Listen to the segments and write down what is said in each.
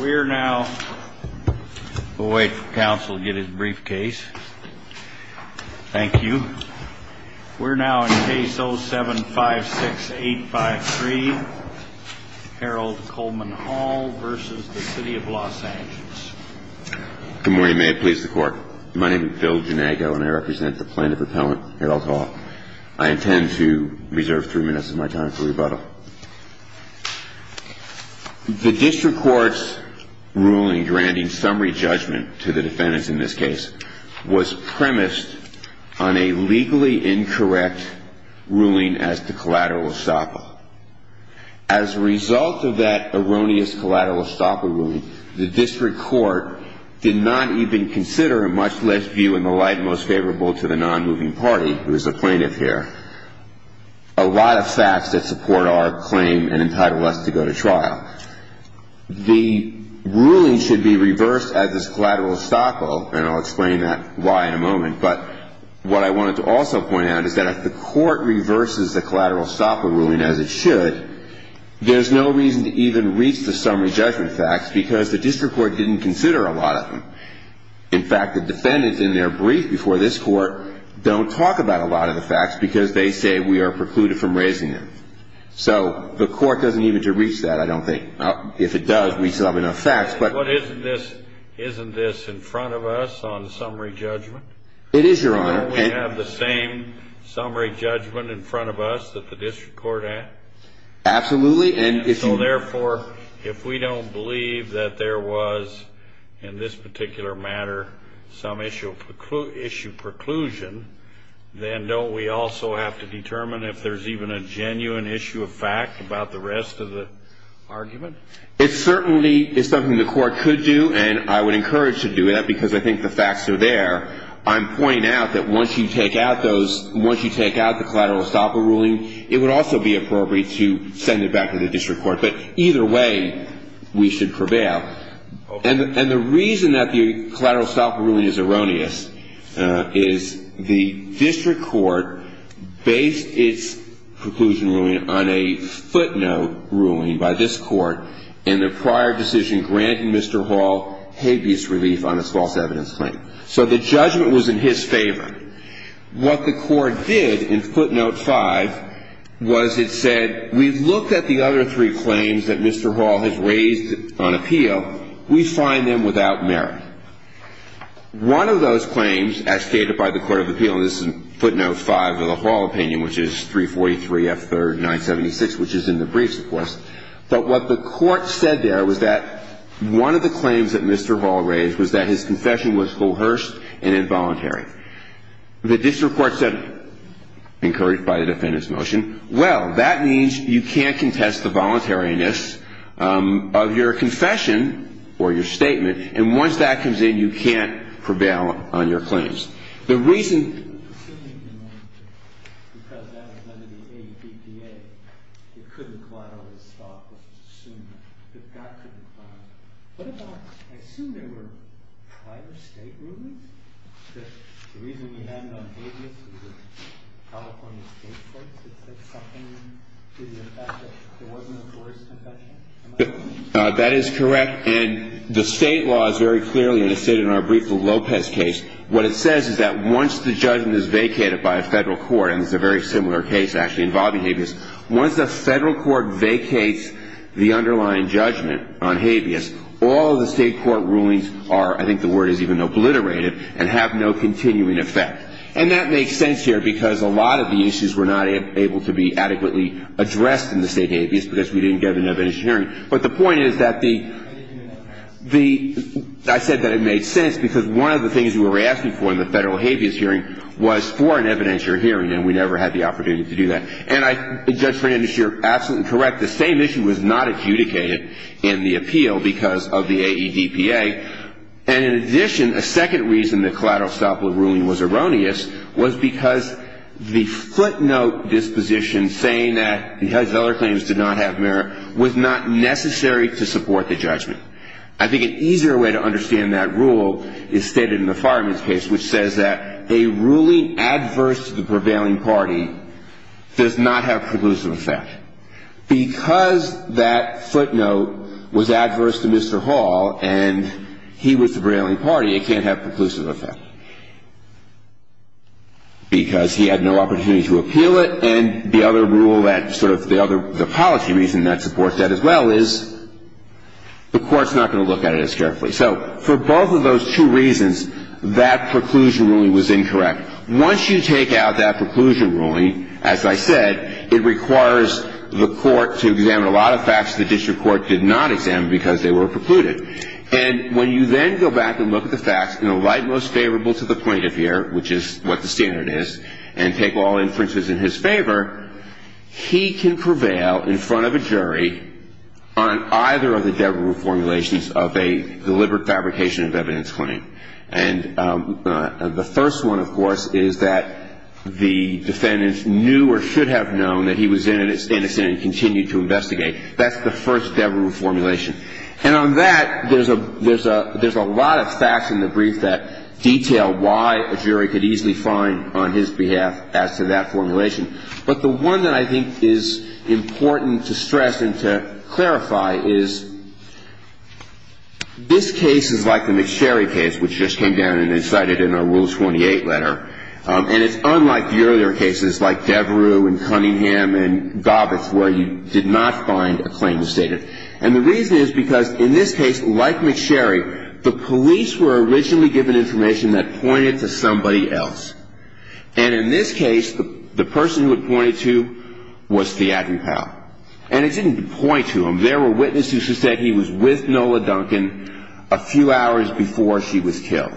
We are now, we'll wait for counsel to get his briefcase. Thank you. We're now in case 0756853, Harold Coleman Hall v. City of L.A. Good morning, may it please the court. My name is Phil Janago and I represent the plaintiff appellant, Harold Hall. I intend to reserve three minutes of my time for rebuttal. The district court's ruling granting summary judgment to the defendants in this case was premised on a legally incorrect ruling as to collateral estoppel. As a result of that erroneous collateral estoppel ruling, the district court did not even consider a much less view in the light and most favorable to the non-moving party, who is the plaintiff here, a lot of facts that support our claim and entitle us to go to trial. The ruling should be reversed as is collateral estoppel, and I'll explain that why in a moment, but what I wanted to also point out is that if the court reverses the collateral estoppel ruling as it should, there's no reason to even reach the summary judgment facts because the district court didn't consider a lot of them. In fact, the defendants in their brief before this court don't talk about a lot of the facts because they say we are precluded from raising them. So the court doesn't even need to reach that, I don't think. If it does, we still have enough facts, but... But isn't this in front of us on summary judgment? It is, Your Honor. Can't we have the same summary judgment in front of us that the district court had? Absolutely, and if you... If the district court has in particular matter some issue preclusion, then don't we also have to determine if there's even a genuine issue of fact about the rest of the argument? It certainly is something the court could do, and I would encourage to do that because I think the facts are there. I'm pointing out that once you take out those, once you take out the collateral estoppel ruling, it would also be appropriate to send it back to the district court, but either way we should prevail. And the reason that the collateral estoppel ruling is erroneous is the district court based its preclusion ruling on a footnote ruling by this court in the prior decision granting Mr. Hall habeas relief on his false evidence claim. So the judgment was in his favor. What the court did in footnote 5 was it said, we looked at the other three claims that Mr. Hall has raised on appeal. We find them without merit. One of those claims as stated by the court of appeal, and this is footnote 5 of the Hall opinion, which is 343F3976, which is in the briefs, of course, but what the court said there was that one of the claims that Mr. Hall raised was that his confession was coerced and involuntary. The district court said, encouraged by the defendant's motion, well, that means you can't contest the voluntariness of your confession or your statement. And once that comes in, you can't prevail on your claims. The reason. That is correct. And the state law is very clearly, as stated in our brief, the Lopez case. What it says is that once the judgment is vacated by a federal court, and it's a very similar case actually involving habeas, once the federal court vacates the underlying judgment on habeas, all the state court rulings are, I think the word is even obliterated, and have no continuing effect. And that makes sense here because a lot of the issues were not able to be adequately addressed in the state habeas because we didn't get enough engineering. But the point is that the, the, I said that it made sense because one of the things we were asking for in the federal habeas hearing was for an evidentiary hearing, and we never had the opportunity to do that. And I, Judge Brandis, you're absolutely correct. The same issue was not adjudicated in the appeal because of the AEDPA. And in addition, a second reason the collateral stop law ruling was erroneous was because the footnote disposition saying that because other claims did not have merit was not necessary to support the judgment. I think an easier way to understand that rule is stated in the Fireman's case, which says that a ruling adverse to the prevailing party does not have preclusive effect. Because that footnote was adverse to Mr. Hall and he was the prevailing party, it can't have preclusive effect. Because he had no opportunity to appeal it, and the other rule that sort of the other, the policy reason that supports that as well is the court's not going to look at it as carefully. So for both of those two reasons, that preclusion ruling was incorrect. Once you take out that preclusion ruling, as I said, it requires the court to examine a lot of facts the district court did not examine because they were precluded. And when you then go back and look at the facts, in the light most favorable to the plaintiff here, which is what the standard is, and take all inferences in his favor, he can prevail in front of a jury on either of the Debrew formulations of a deliberate fabrication of evidence claim. And the first one, of course, is that the defendant knew or should have known that he was innocent and continued to investigate. That's the first Debrew formulation. And on that, there's a lot of facts in the brief that detail why a jury could easily find on his behalf as to that formulation. But the one that I think is important to stress and to clarify is this case is like the McSherry case, which just came down and is cited in our Rule 28 letter. And it's unlike the earlier cases like Debrew and Cunningham and Gobbets where you did not find a claim to state it. And the reason is because, in this case, like McSherry, the police were originally given information that pointed to somebody else. And in this case, the person who it pointed to was Theodory Powell. And it didn't point to him. There were witnesses who said he was with Nola Duncan a few hours before she was killed.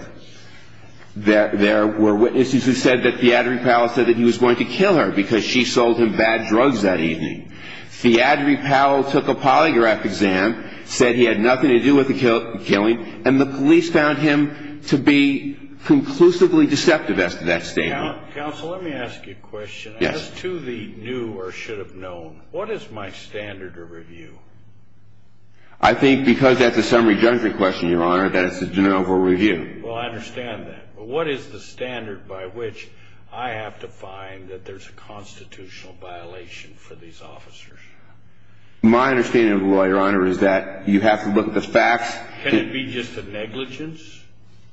There were witnesses who said that Theodory Powell said that he was going to kill her because she sold him bad drugs that evening. Theodory Powell took a polygraph exam, said he had nothing to do with the killing, and the police found him to be conclusively deceptive as to that statement. Counsel, let me ask you a question. Yes. As to the new or should have known, what is my standard of review? I think because that's a summary judgment question, Your Honor, that it's a general review. Well, I understand that. But what is the standard by which I have to find that there's a constitutional violation for these officers? My understanding of the law, Your Honor, is that you have to look at the facts. Can it be just a negligence?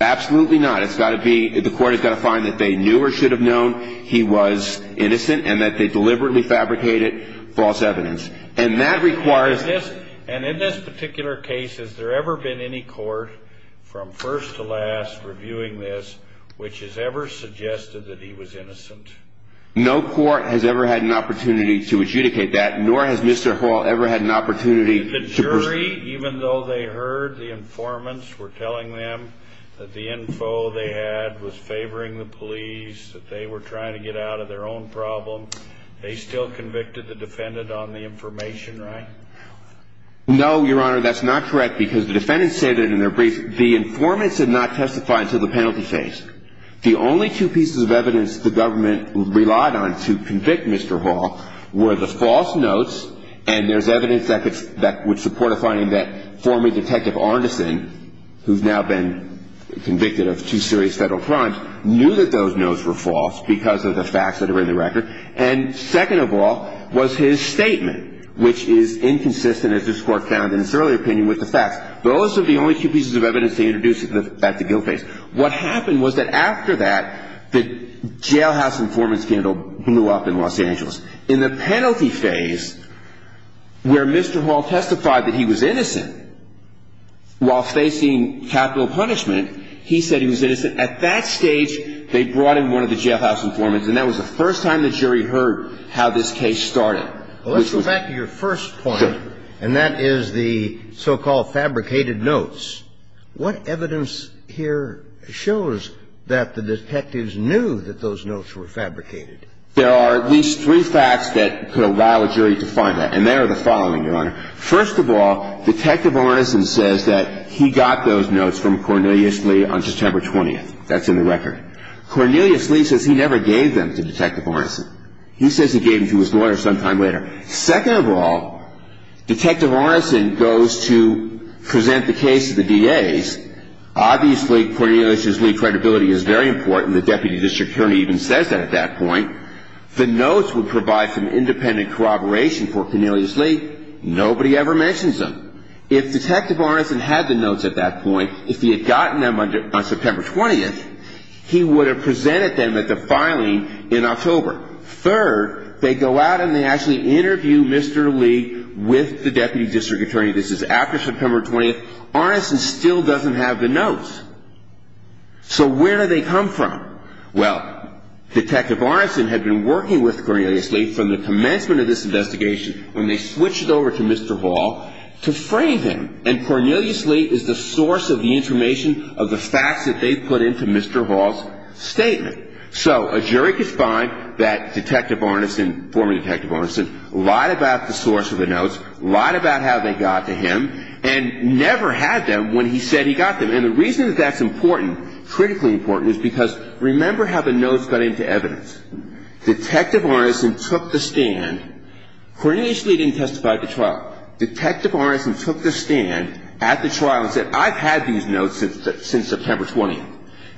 Absolutely not. It's got to be the court has got to find that they knew or should have known he was innocent and that they deliberately fabricated false evidence. And that requires this. And in this particular case, has there ever been any court from first to last reviewing this which has ever suggested that he was innocent? No court has ever had an opportunity to adjudicate that, nor has Mr. Hall ever had an opportunity. The jury, even though they heard the informants were telling them that the info they had was favoring the police, that they were trying to get out of their own problem, they still convicted the defendant on the information, right? No, Your Honor. That's not correct because the defendants stated in their brief the informants had not testified until the penalty phase. The only two pieces of evidence the government relied on to convict Mr. Hall were the false notes and there's evidence that would support a finding that former Detective Arneson, who's now been convicted of two serious federal crimes, knew that those notes were false because of the facts that are in the record. And second of all was his statement, which is inconsistent, as this court found in its earlier opinion, with the facts. Those are the only two pieces of evidence they introduced at the guilt phase. What happened was that after that, the jailhouse informant scandal blew up in Los Angeles. In the penalty phase, where Mr. Hall testified that he was innocent, while facing capital punishment, he said he was innocent. At that stage, they brought in one of the jailhouse informants and that was the first time the jury heard how this case started. Well, let's go back to your first point and that is the so-called fabricated notes. What evidence here shows that the detectives knew that those notes were fabricated? There are at least three facts that could allow a jury to find that and they are the following, Your Honor. First of all, Detective Arneson says that he got those notes from Cornelius Lee on September 20th. That's in the record. Cornelius Lee says he never gave them to Detective Arneson. He says he gave them to his lawyer sometime later. Second of all, Detective Arneson goes to present the case to the DAs. Obviously, Cornelius Lee's credibility is very important. The deputy district attorney even says that at that point. The notes would provide some independent corroboration for Cornelius Lee. Nobody ever mentions them. If Detective Arneson had the notes at that point, if he had gotten them on September 20th, he would have presented them at the filing in October. Third, they go out and they actually interview Mr. Lee with the deputy district attorney. This is after September 20th. Arneson still doesn't have the notes. So where do they come from? Well, Detective Arneson had been working with Cornelius Lee from the commencement of this investigation when they switched over to Mr. Hall to frame him. And Cornelius Lee is the source of the information of the facts that they put into Mr. Hall's statement. So a jury could find that Detective Arneson, former Detective Arneson, lied about the source of the notes, lied about how they got to him, and never had them when he said he got them. And the reason that that's important, critically important, is because remember how the notes got into evidence. Detective Arneson took the stand. Cornelius Lee didn't testify at the trial. Detective Arneson took the stand at the trial and said, I've had these notes since September 20th.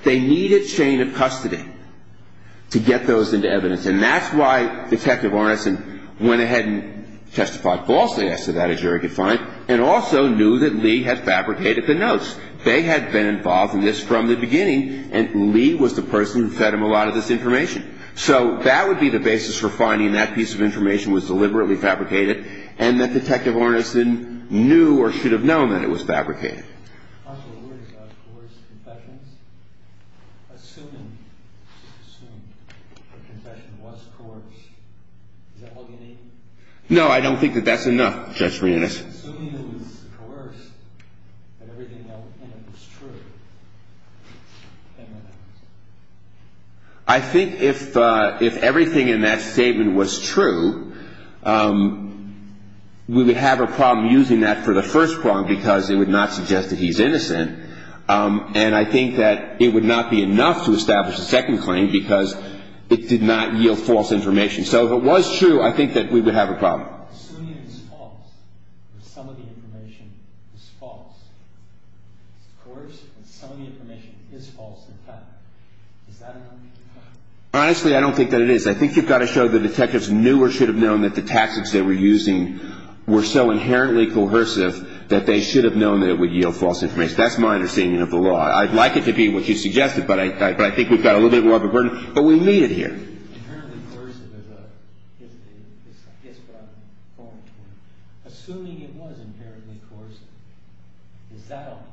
They need a chain of custody to get those into evidence. And that's why Detective Arneson went ahead and testified falsely as to that, a jury could find, and also knew that Lee had fabricated the notes. They had been involved in this from the beginning, and Lee was the person who fed him a lot of this information. So that would be the basis for finding that piece of information was deliberately fabricated and that Detective Arneson knew or should have known that it was fabricated. No, I don't think that that's enough, Judge Reunas. I think if everything in that statement was true, we would have a problem using that for the first problem because it would not suggest that he's innocent. And I think that it would not be enough to establish a second claim because it did not yield false information. So if it was true, I think that we would have a problem. Honestly, I don't think that it is. I think you've got to show the detectives knew or should have known that the tactics they were using were so inherently coercive that they should have known that it would yield false information. That's my understanding of the law. I'd like it to be what you suggested, but I think we've got a little bit more of a burden, but we need it here. Inherently coercive is what I'm going for. Assuming it was inherently coercive, is that all?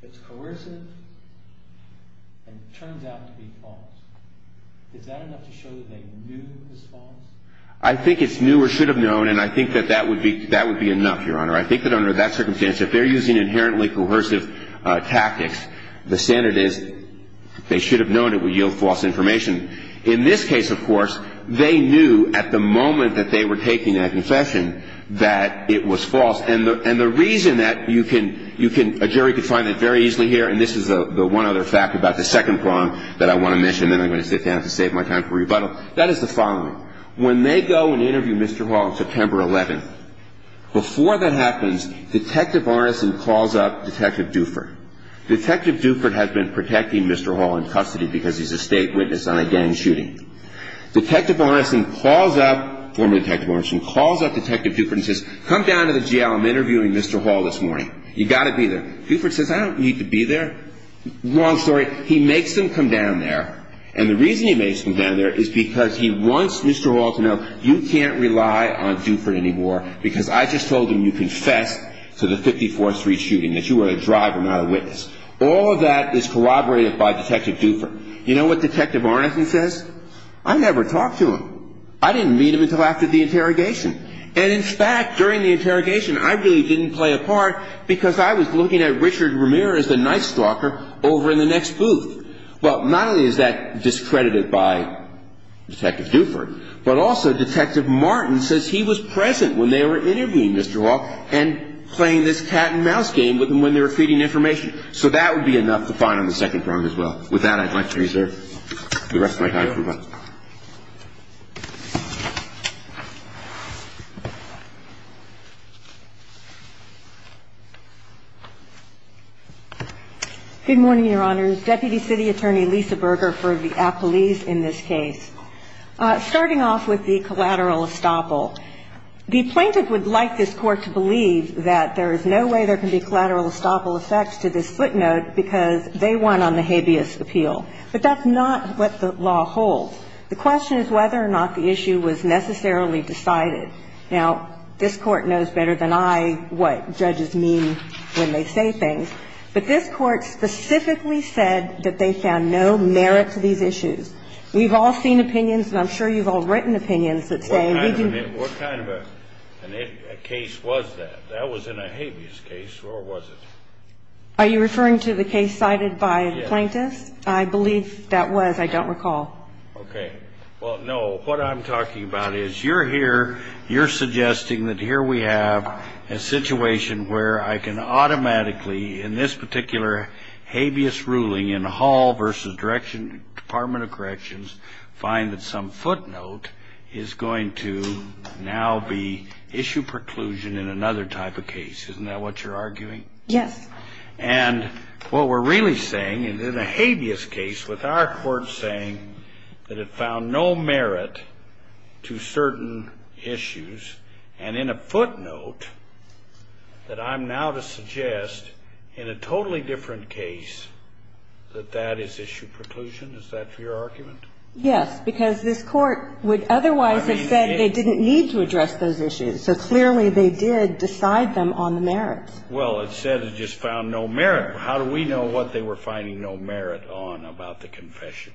If it's coercive and it turns out to be false, is that enough to show that they knew it was false? I think it's knew or should have known, and I think that that would be enough, Your Honor. I think that under that circumstance, if they're using inherently coercive tactics, the standard is they should have known it would yield false information. In this case, of course, they knew at the moment that they were taking that confession that it was false. And the reason that you can – a jury could find that very easily here, and this is the one other fact about the second problem that I want to mention, and then I'm going to sit down to save my time for rebuttal. That is the following. When they go and interview Mr. Hall on September 11th, before that happens, Detective Ornison calls up Detective Duford. Detective Duford has been protecting Mr. Hall in custody because he's a state witness on a gang shooting. Detective Ornison calls up – former Detective Ornison calls up Detective Duford and says, come down to the jail. I'm interviewing Mr. Hall this morning. You've got to be there. Duford says, I don't need to be there. Wrong story. He makes him come down there, and the reason he makes him come down there is because he wants Mr. Hall to know, you can't rely on Duford anymore because I just told him you confessed to the 54th Street shooting, that you were a driver, not a witness. All of that is corroborated by Detective Duford. You know what Detective Ornison says? I never talked to him. I didn't meet him until after the interrogation. And in fact, during the interrogation, I really didn't play a part because I was looking at Richard Ramirez, the night stalker, over in the next booth. Well, not only is that discredited by Detective Duford, but also Detective Martin says he was present when they were interviewing Mr. Hall and playing this cat and mouse game with him when they were feeding information. So that would be enough to find on the second prong as well. With that, I'd like to reserve the rest of my time. Thank you. Good morning, Your Honors. Deputy City Attorney Lisa Berger for the apolis in this case. Starting off with the collateral estoppel, the plaintiff would like this Court to believe that there is no way there can be collateral estoppel effects to this footnote because they won on the habeas appeal. But that's not what the law holds. The question is whether or not the issue was necessarily decided. Now, this Court knows better than I what judges mean when they say things. But this Court specifically said that they found no merit to these issues. We've all seen opinions, and I'm sure you've all written opinions, that say we can... What kind of a case was that? That was in a habeas case, or was it? Are you referring to the case cited by the plaintiff? Yes. I believe that was. I don't recall. Okay. Well, no, what I'm talking about is you're here, you're suggesting that here we have a situation where I can automatically, in this particular habeas ruling in Hall v. Department of Corrections, find that some footnote is going to now be issue preclusion in another type of case. Isn't that what you're arguing? Yes. And what we're really saying is in a habeas case with our court saying that it found no merit to certain issues, and in a footnote that I'm now to suggest in a totally different case that that is issue preclusion, is that your argument? Yes. Because this Court would otherwise have said they didn't need to address those issues. So clearly they did decide them on the merits. Well, it said it just found no merit. How do we know what they were finding no merit on about the confession?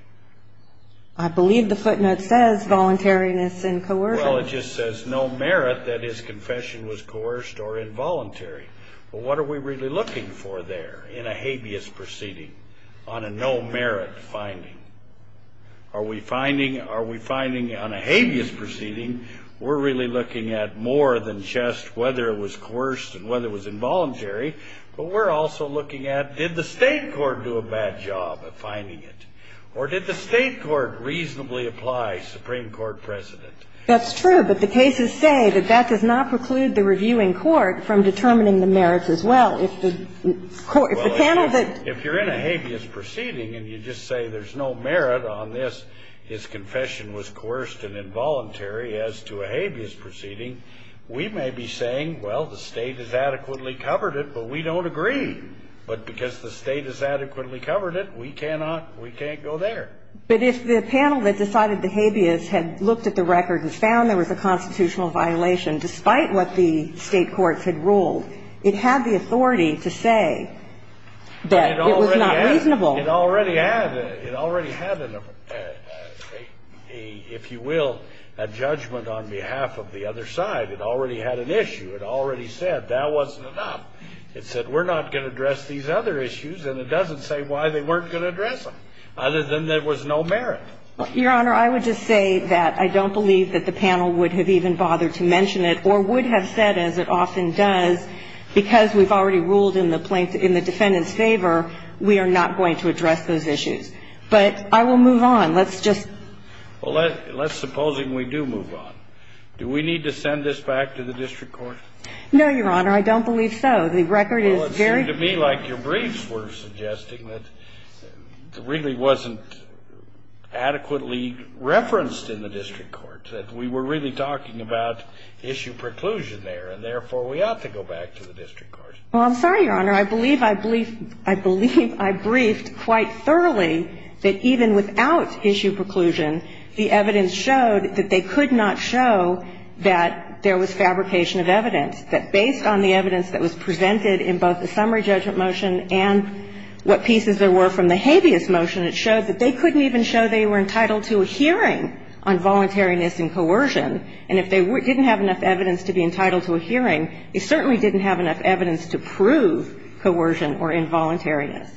I believe the footnote says voluntariness and coercion. Well, it just says no merit that his confession was coerced or involuntary. Well, what are we really looking for there in a habeas proceeding on a no merit finding? Are we finding on a habeas proceeding, we're really looking at more than just whether it was coerced and whether it was involuntary, but we're also looking at did the State court do a bad job of finding it? Or did the State court reasonably apply Supreme Court precedent? That's true. But the cases say that that does not preclude the reviewing court from determining the merits as well. If the panel that ---- Well, if you're in a habeas proceeding and you just say there's no merit on this, his confession was coerced and involuntary as to a habeas proceeding, we may be saying, well, the State has adequately covered it, but we don't agree. But because the State has adequately covered it, we cannot go there. But if the panel that decided the habeas had looked at the record and found there was a constitutional violation despite what the State courts had ruled, it had the authority to say that it was not reasonable. It already had. It already had, if you will, a judgment on behalf of the other side. It already had an issue. It already said that wasn't enough. It said we're not going to address these other issues, and it doesn't say why they weren't going to address them, other than there was no merit. Your Honor, I would just say that I don't believe that the panel would have even bothered to mention it or would have said, as it often does, because we've already ruled in the defendant's favor, we are not going to address those issues. But I will move on. Let's just ---- Well, let's suppose we do move on. Do we need to send this back to the district court? No, Your Honor. I don't believe so. The record is very ---- Well, it seemed to me like your briefs were suggesting that it really wasn't adequately referenced in the district court, that we were really talking about issue preclusion there, and therefore, we ought to go back to the district court. Well, I'm sorry, Your Honor. I believe I briefed quite thoroughly that even without issue preclusion, the evidence showed that they could not show that there was fabrication of evidence, that based on the evidence that was presented in both the summary judgment motion and what pieces there were from the habeas motion, it showed that they couldn't even show they were entitled to a hearing on voluntariness and coercion. And if they didn't have enough evidence to be entitled to a hearing, they certainly didn't have enough evidence to prove coercion or involuntariness.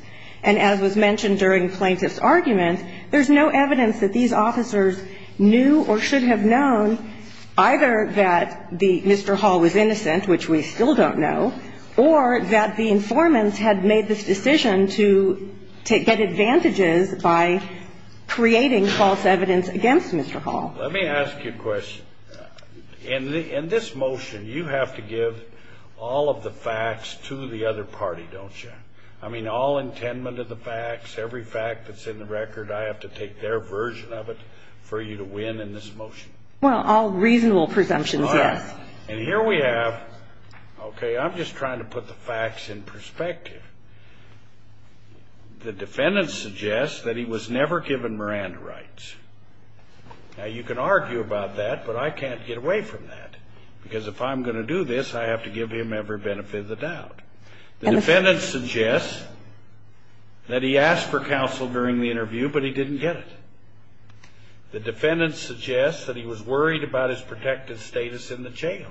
And as was mentioned during the plaintiff's argument, there's no evidence that these officers knew or should have known either that the Mr. Hall was innocent, which we still don't know, or that the informants had made this decision to get advantages by creating false evidence against Mr. Hall. Let me ask you a question. In this motion, you have to give all of the facts to the other party, don't you? I mean, all intendment of the facts, every fact that's in the record, I have to take their version of it for you to win in this motion. Well, all reasonable presumptions, yes. And here we have, okay, I'm just trying to put the facts in perspective. The defendant suggests that he was never given Miranda rights. Now, you can argue about that, but I can't get away from that, because if I'm going to do this, I have to give him every benefit of the doubt. The defendant suggests that he asked for counsel during the interview, but he didn't get it. The defendant suggests that he was worried about his protected status in the jail,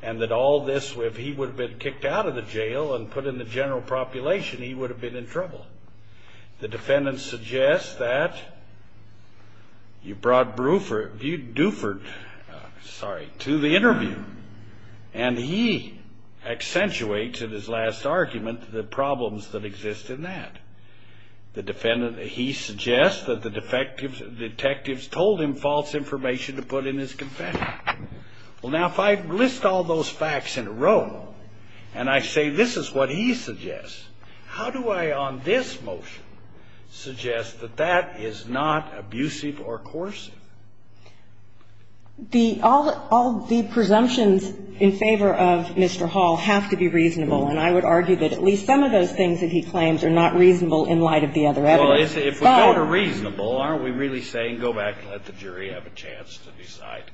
and that all this, if he would have been kicked out of the jail and put in the general population, he would have been in trouble. The defendant suggests that you brought Buford, sorry, to the interview, and he accentuates in his last argument the problems that exist in that. The defendant, he suggests that the detectives told him false information to put in his confession. Well, now, if I list all those facts in a row, and I say this is what he suggests, how do I on this motion suggest that that is not abusive or coercive? The all the presumptions in favor of Mr. Hall have to be reasonable, and I would argue that at least some of those things that he claims are not reasonable in light of the other evidence. But if we go to reasonable, aren't we really saying go back and let the jury have a chance to decide?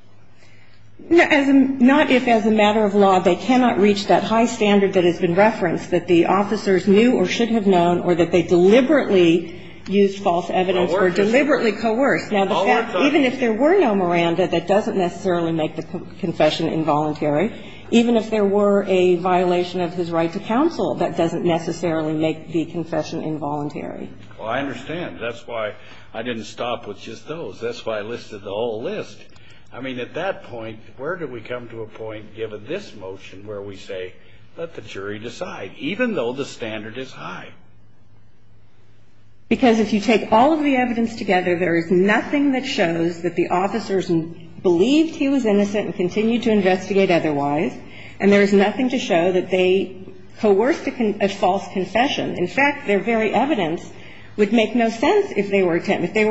Not if, as a matter of law, they cannot reach that high standard that has been referenced, that the officers knew or should have known, or that they deliberately used false evidence or deliberately coerced. Now, the fact that even if there were no Miranda, that doesn't necessarily make the confession involuntary. Even if there were a violation of his right to counsel, that doesn't necessarily make the confession involuntary. Well, I understand. That's why I didn't stop with just those. That's why I listed the whole list. I mean, at that point, where do we come to a point, given this motion, where we say let the jury decide, even though the standard is high? Because if you take all of the evidence together, there is nothing that shows that the officers believed he was innocent and continued to investigate otherwise, and there is nothing to show that they coerced a false confession. In fact, their very evidence would make no sense if they were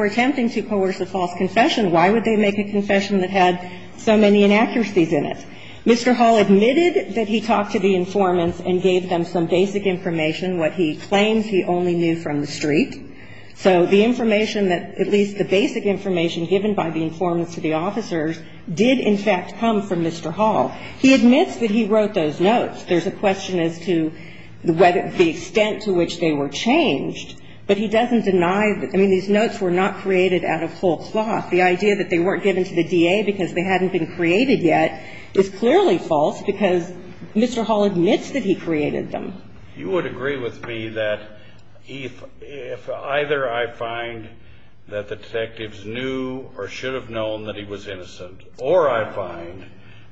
attempting to coerce a false confession. Why would they make a confession that had so many inaccuracies in it? Mr. Hall admitted that he talked to the informants and gave them some basic information, what he claims he only knew from the street. So the information that at least the basic information given by the informants to the officers did, in fact, come from Mr. Hall. He admits that he wrote those notes. There's a question as to the extent to which they were changed. But he doesn't deny that. I mean, these notes were not created out of whole cloth. The idea that they weren't given to the DA because they hadn't been created yet is clearly false because Mr. Hall admits that he created them. You would agree with me that if either I find that the detectives knew or should have known that he was innocent, or I find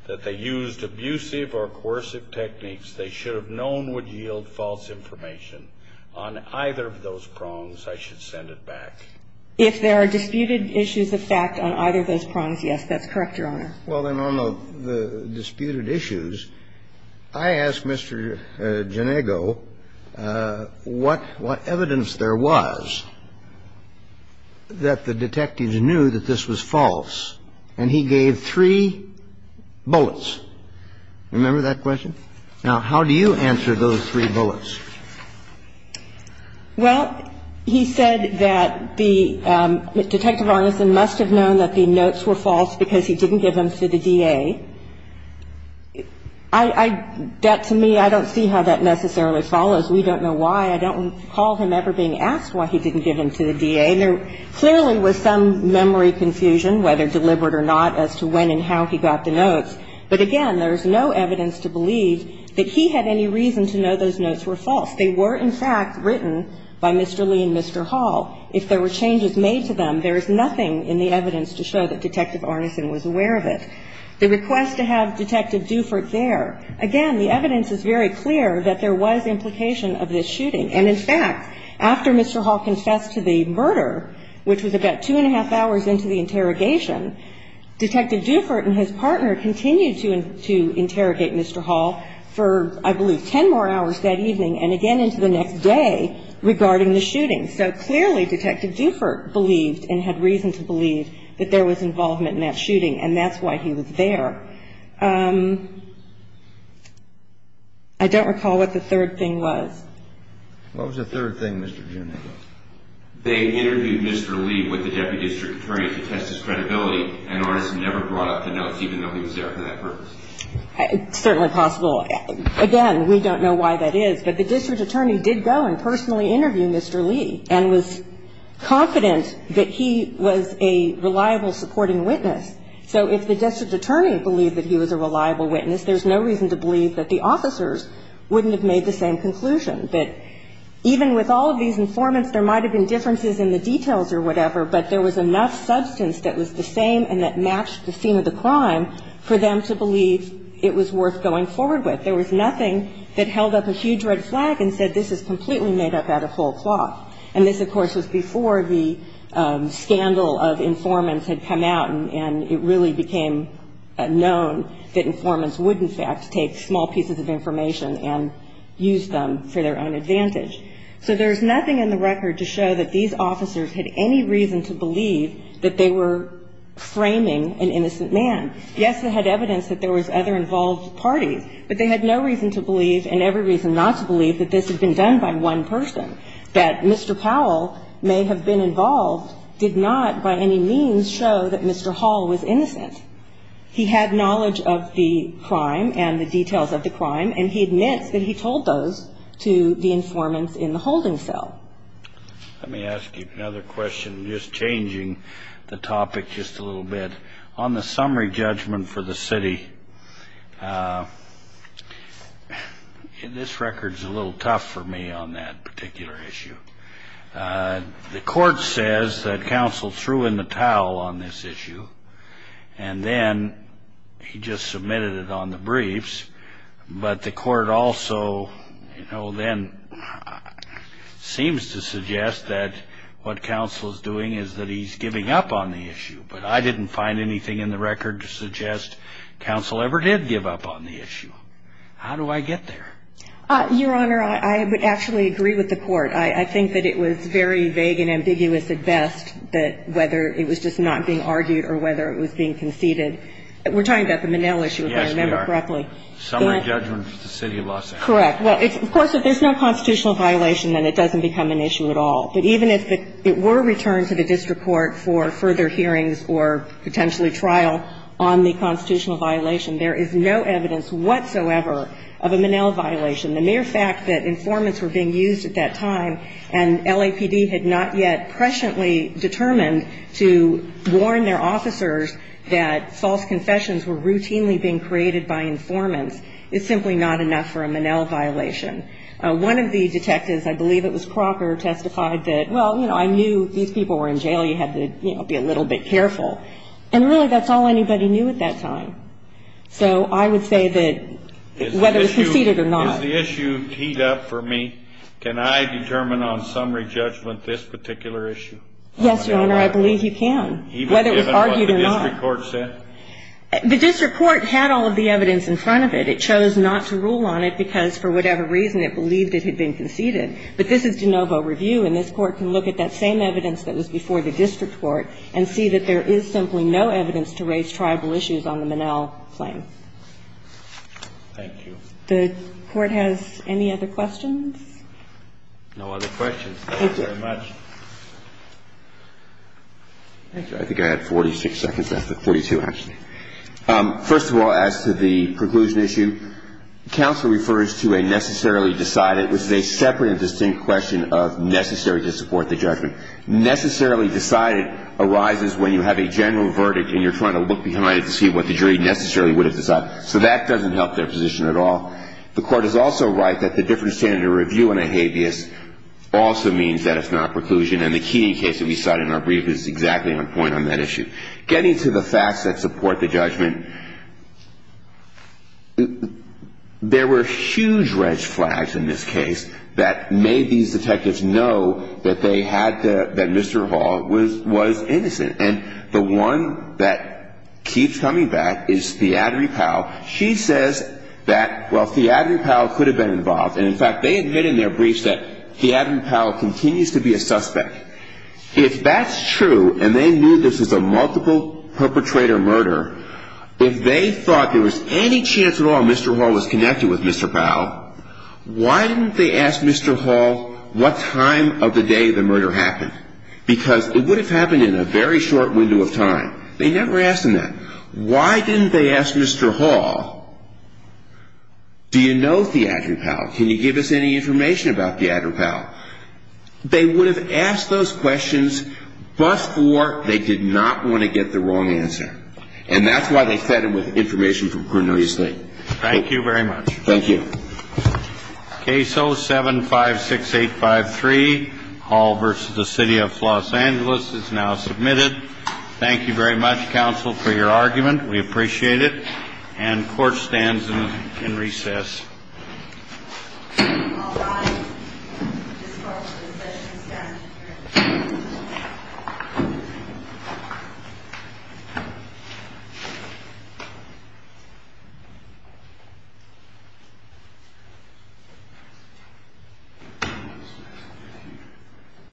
that they used abusive or coercive techniques, they should have known would yield false information, on either of those prongs, I should send it back? If there are disputed issues of fact on either of those prongs, yes. That's correct, Your Honor. Well, then, on the disputed issues, I asked Mr. Genego what evidence there was that the detectives knew that this was false. And he gave three bullets. Remember that question? Now, how do you answer those three bullets? Well, he said that the Detective Arneson must have known that the notes were false because he didn't give them to the DA. That, to me, I don't see how that necessarily follows. We don't know why. I don't recall him ever being asked why he didn't give them to the DA. And there clearly was some memory confusion, whether deliberate or not, as to when and how he got the notes. But, again, there is no evidence to believe that he had any reason to know those notes were false. They were, in fact, written by Mr. Lee and Mr. Hall. If there were changes made to them, there is nothing in the evidence to show that Detective Arneson was aware of it. The request to have Detective Dufert there, again, the evidence is very clear that there was implication of this shooting. And, in fact, after Mr. Hall confessed to the murder, which was about two and a half hours into the interrogation, Detective Dufert and his partner continued to interrogate Mr. Hall for, I believe, ten more hours that evening and again into the next day regarding the shooting. So, clearly, Detective Dufert believed and had reason to believe that there was involvement in that shooting, and that's why he was there. I don't recall what the third thing was. What was the third thing, Mr. Juneau? They interviewed Mr. Lee with the deputy district attorney to test his credibility, and Arneson never brought up the notes, even though he was there for that purpose. It's certainly possible. Again, we don't know why that is, but the district attorney did go and personally interview Mr. Lee and was confident that he was a reliable supporting witness. So if the district attorney believed that he was a reliable witness, there's no reason to believe that the officers wouldn't have made the same conclusion. But even with all of these informants, there might have been differences in the details or whatever, but there was enough substance that was the same and that matched the theme of the crime for them to believe it was worth going forward with. There was nothing that held up a huge red flag and said, this is completely made up out of whole cloth. And this, of course, was before the scandal of informants had come out and it really became known that informants would, in fact, take small pieces of information and use them for their own advantage. So there's nothing in the record to show that these officers had any reason to believe that they were framing an innocent man. Yes, they had evidence that there was other involved parties, but they had no reason to believe and every reason not to believe that this had been done by one person, that Mr. Powell may have been involved, did not by any means show that Mr. Hall was innocent. He had knowledge of the crime and the details of the crime and he admits that he told those to the informants in the holding cell. Let me ask you another question, just changing the topic just a little bit. On the summary judgment for the city, this record is a little tough for me on that particular issue. The court says that counsel threw in the towel on this issue and then he just submitted it on the briefs, but the court also, you know, then seems to suggest that what counsel is doing is that he's giving up on the issue. But I didn't find anything in the record to suggest counsel ever did give up on the issue. How do I get there? Your Honor, I would actually agree with the court. I think that it was very vague and ambiguous at best that whether it was just not being argued or whether it was being conceded. We're talking about the Minnell issue, if I remember correctly. Yes, we are. Summary judgment for the city of Los Angeles. Correct. Well, of course, if there's no constitutional violation, then it doesn't become an issue at all. But even if it were returned to the district court for further hearings or potentially trial on the constitutional violation, there is no evidence whatsoever of a Minnell violation. The mere fact that informants were being used at that time and LAPD had not yet presciently determined to warn their officers that false confessions were routinely being created by informants is simply not enough for a Minnell violation. One of the detectives, I believe it was Crocker, testified that, well, you know, I knew these people were in jail. You had to, you know, be a little bit careful. And really that's all anybody knew at that time. So I would say that whether it was conceded or not. Is the issue teed up for me? Can I determine on summary judgment this particular issue? Yes, Your Honor, I believe you can, whether it was argued or not. Even given what the district court said? The district court had all of the evidence in front of it. It chose not to rule on it because for whatever reason it believed it had been conceded. But this is de novo review, and this Court can look at that same evidence that was before the district court and see that there is simply no evidence to raise tribal issues on the Minnell claim. Thank you. The Court has any other questions? No other questions. Thank you very much. Thank you. I think I had 46 seconds. That's 42, actually. First of all, as to the preclusion issue, counsel refers to a necessarily decided, which is a separate and distinct question of necessary to support the judgment. Necessarily decided arises when you have a general verdict and you're trying to look behind it to see what the jury necessarily would have decided. So that doesn't help their position at all. The Court is also right that the different standard of review in a habeas also means that it's not preclusion. And the Keating case that we cited in our brief is exactly on point on that issue. Getting to the facts that support the judgment, there were huge red flags in this case that made these detectives know that they had the Mr. Hall was innocent. And the one that keeps coming back is Theodery Powell. She says that, well, Theodery Powell could have been involved. And, in fact, they admit in their briefs that Theodery Powell continues to be a suspect. If that's true, and they knew this was a multiple perpetrator murder, if they thought there was any chance at all Mr. Hall was connected with Mr. Powell, why didn't they ask Mr. Hall what time of the day the murder happened? Because it would have happened in a very short window of time. They never asked him that. Why didn't they ask Mr. Hall, do you know Theodery Powell? Can you give us any information about Theodery Powell? They would have asked those questions before they did not want to get the wrong answer. And that's why they said it with information from Cornelius Lee. Thank you very much. Thank you. Case 0756853, Hall v. The City of Los Angeles, is now submitted. Thank you very much, counsel, for your argument. We appreciate it. And court stands in recess. Thank you.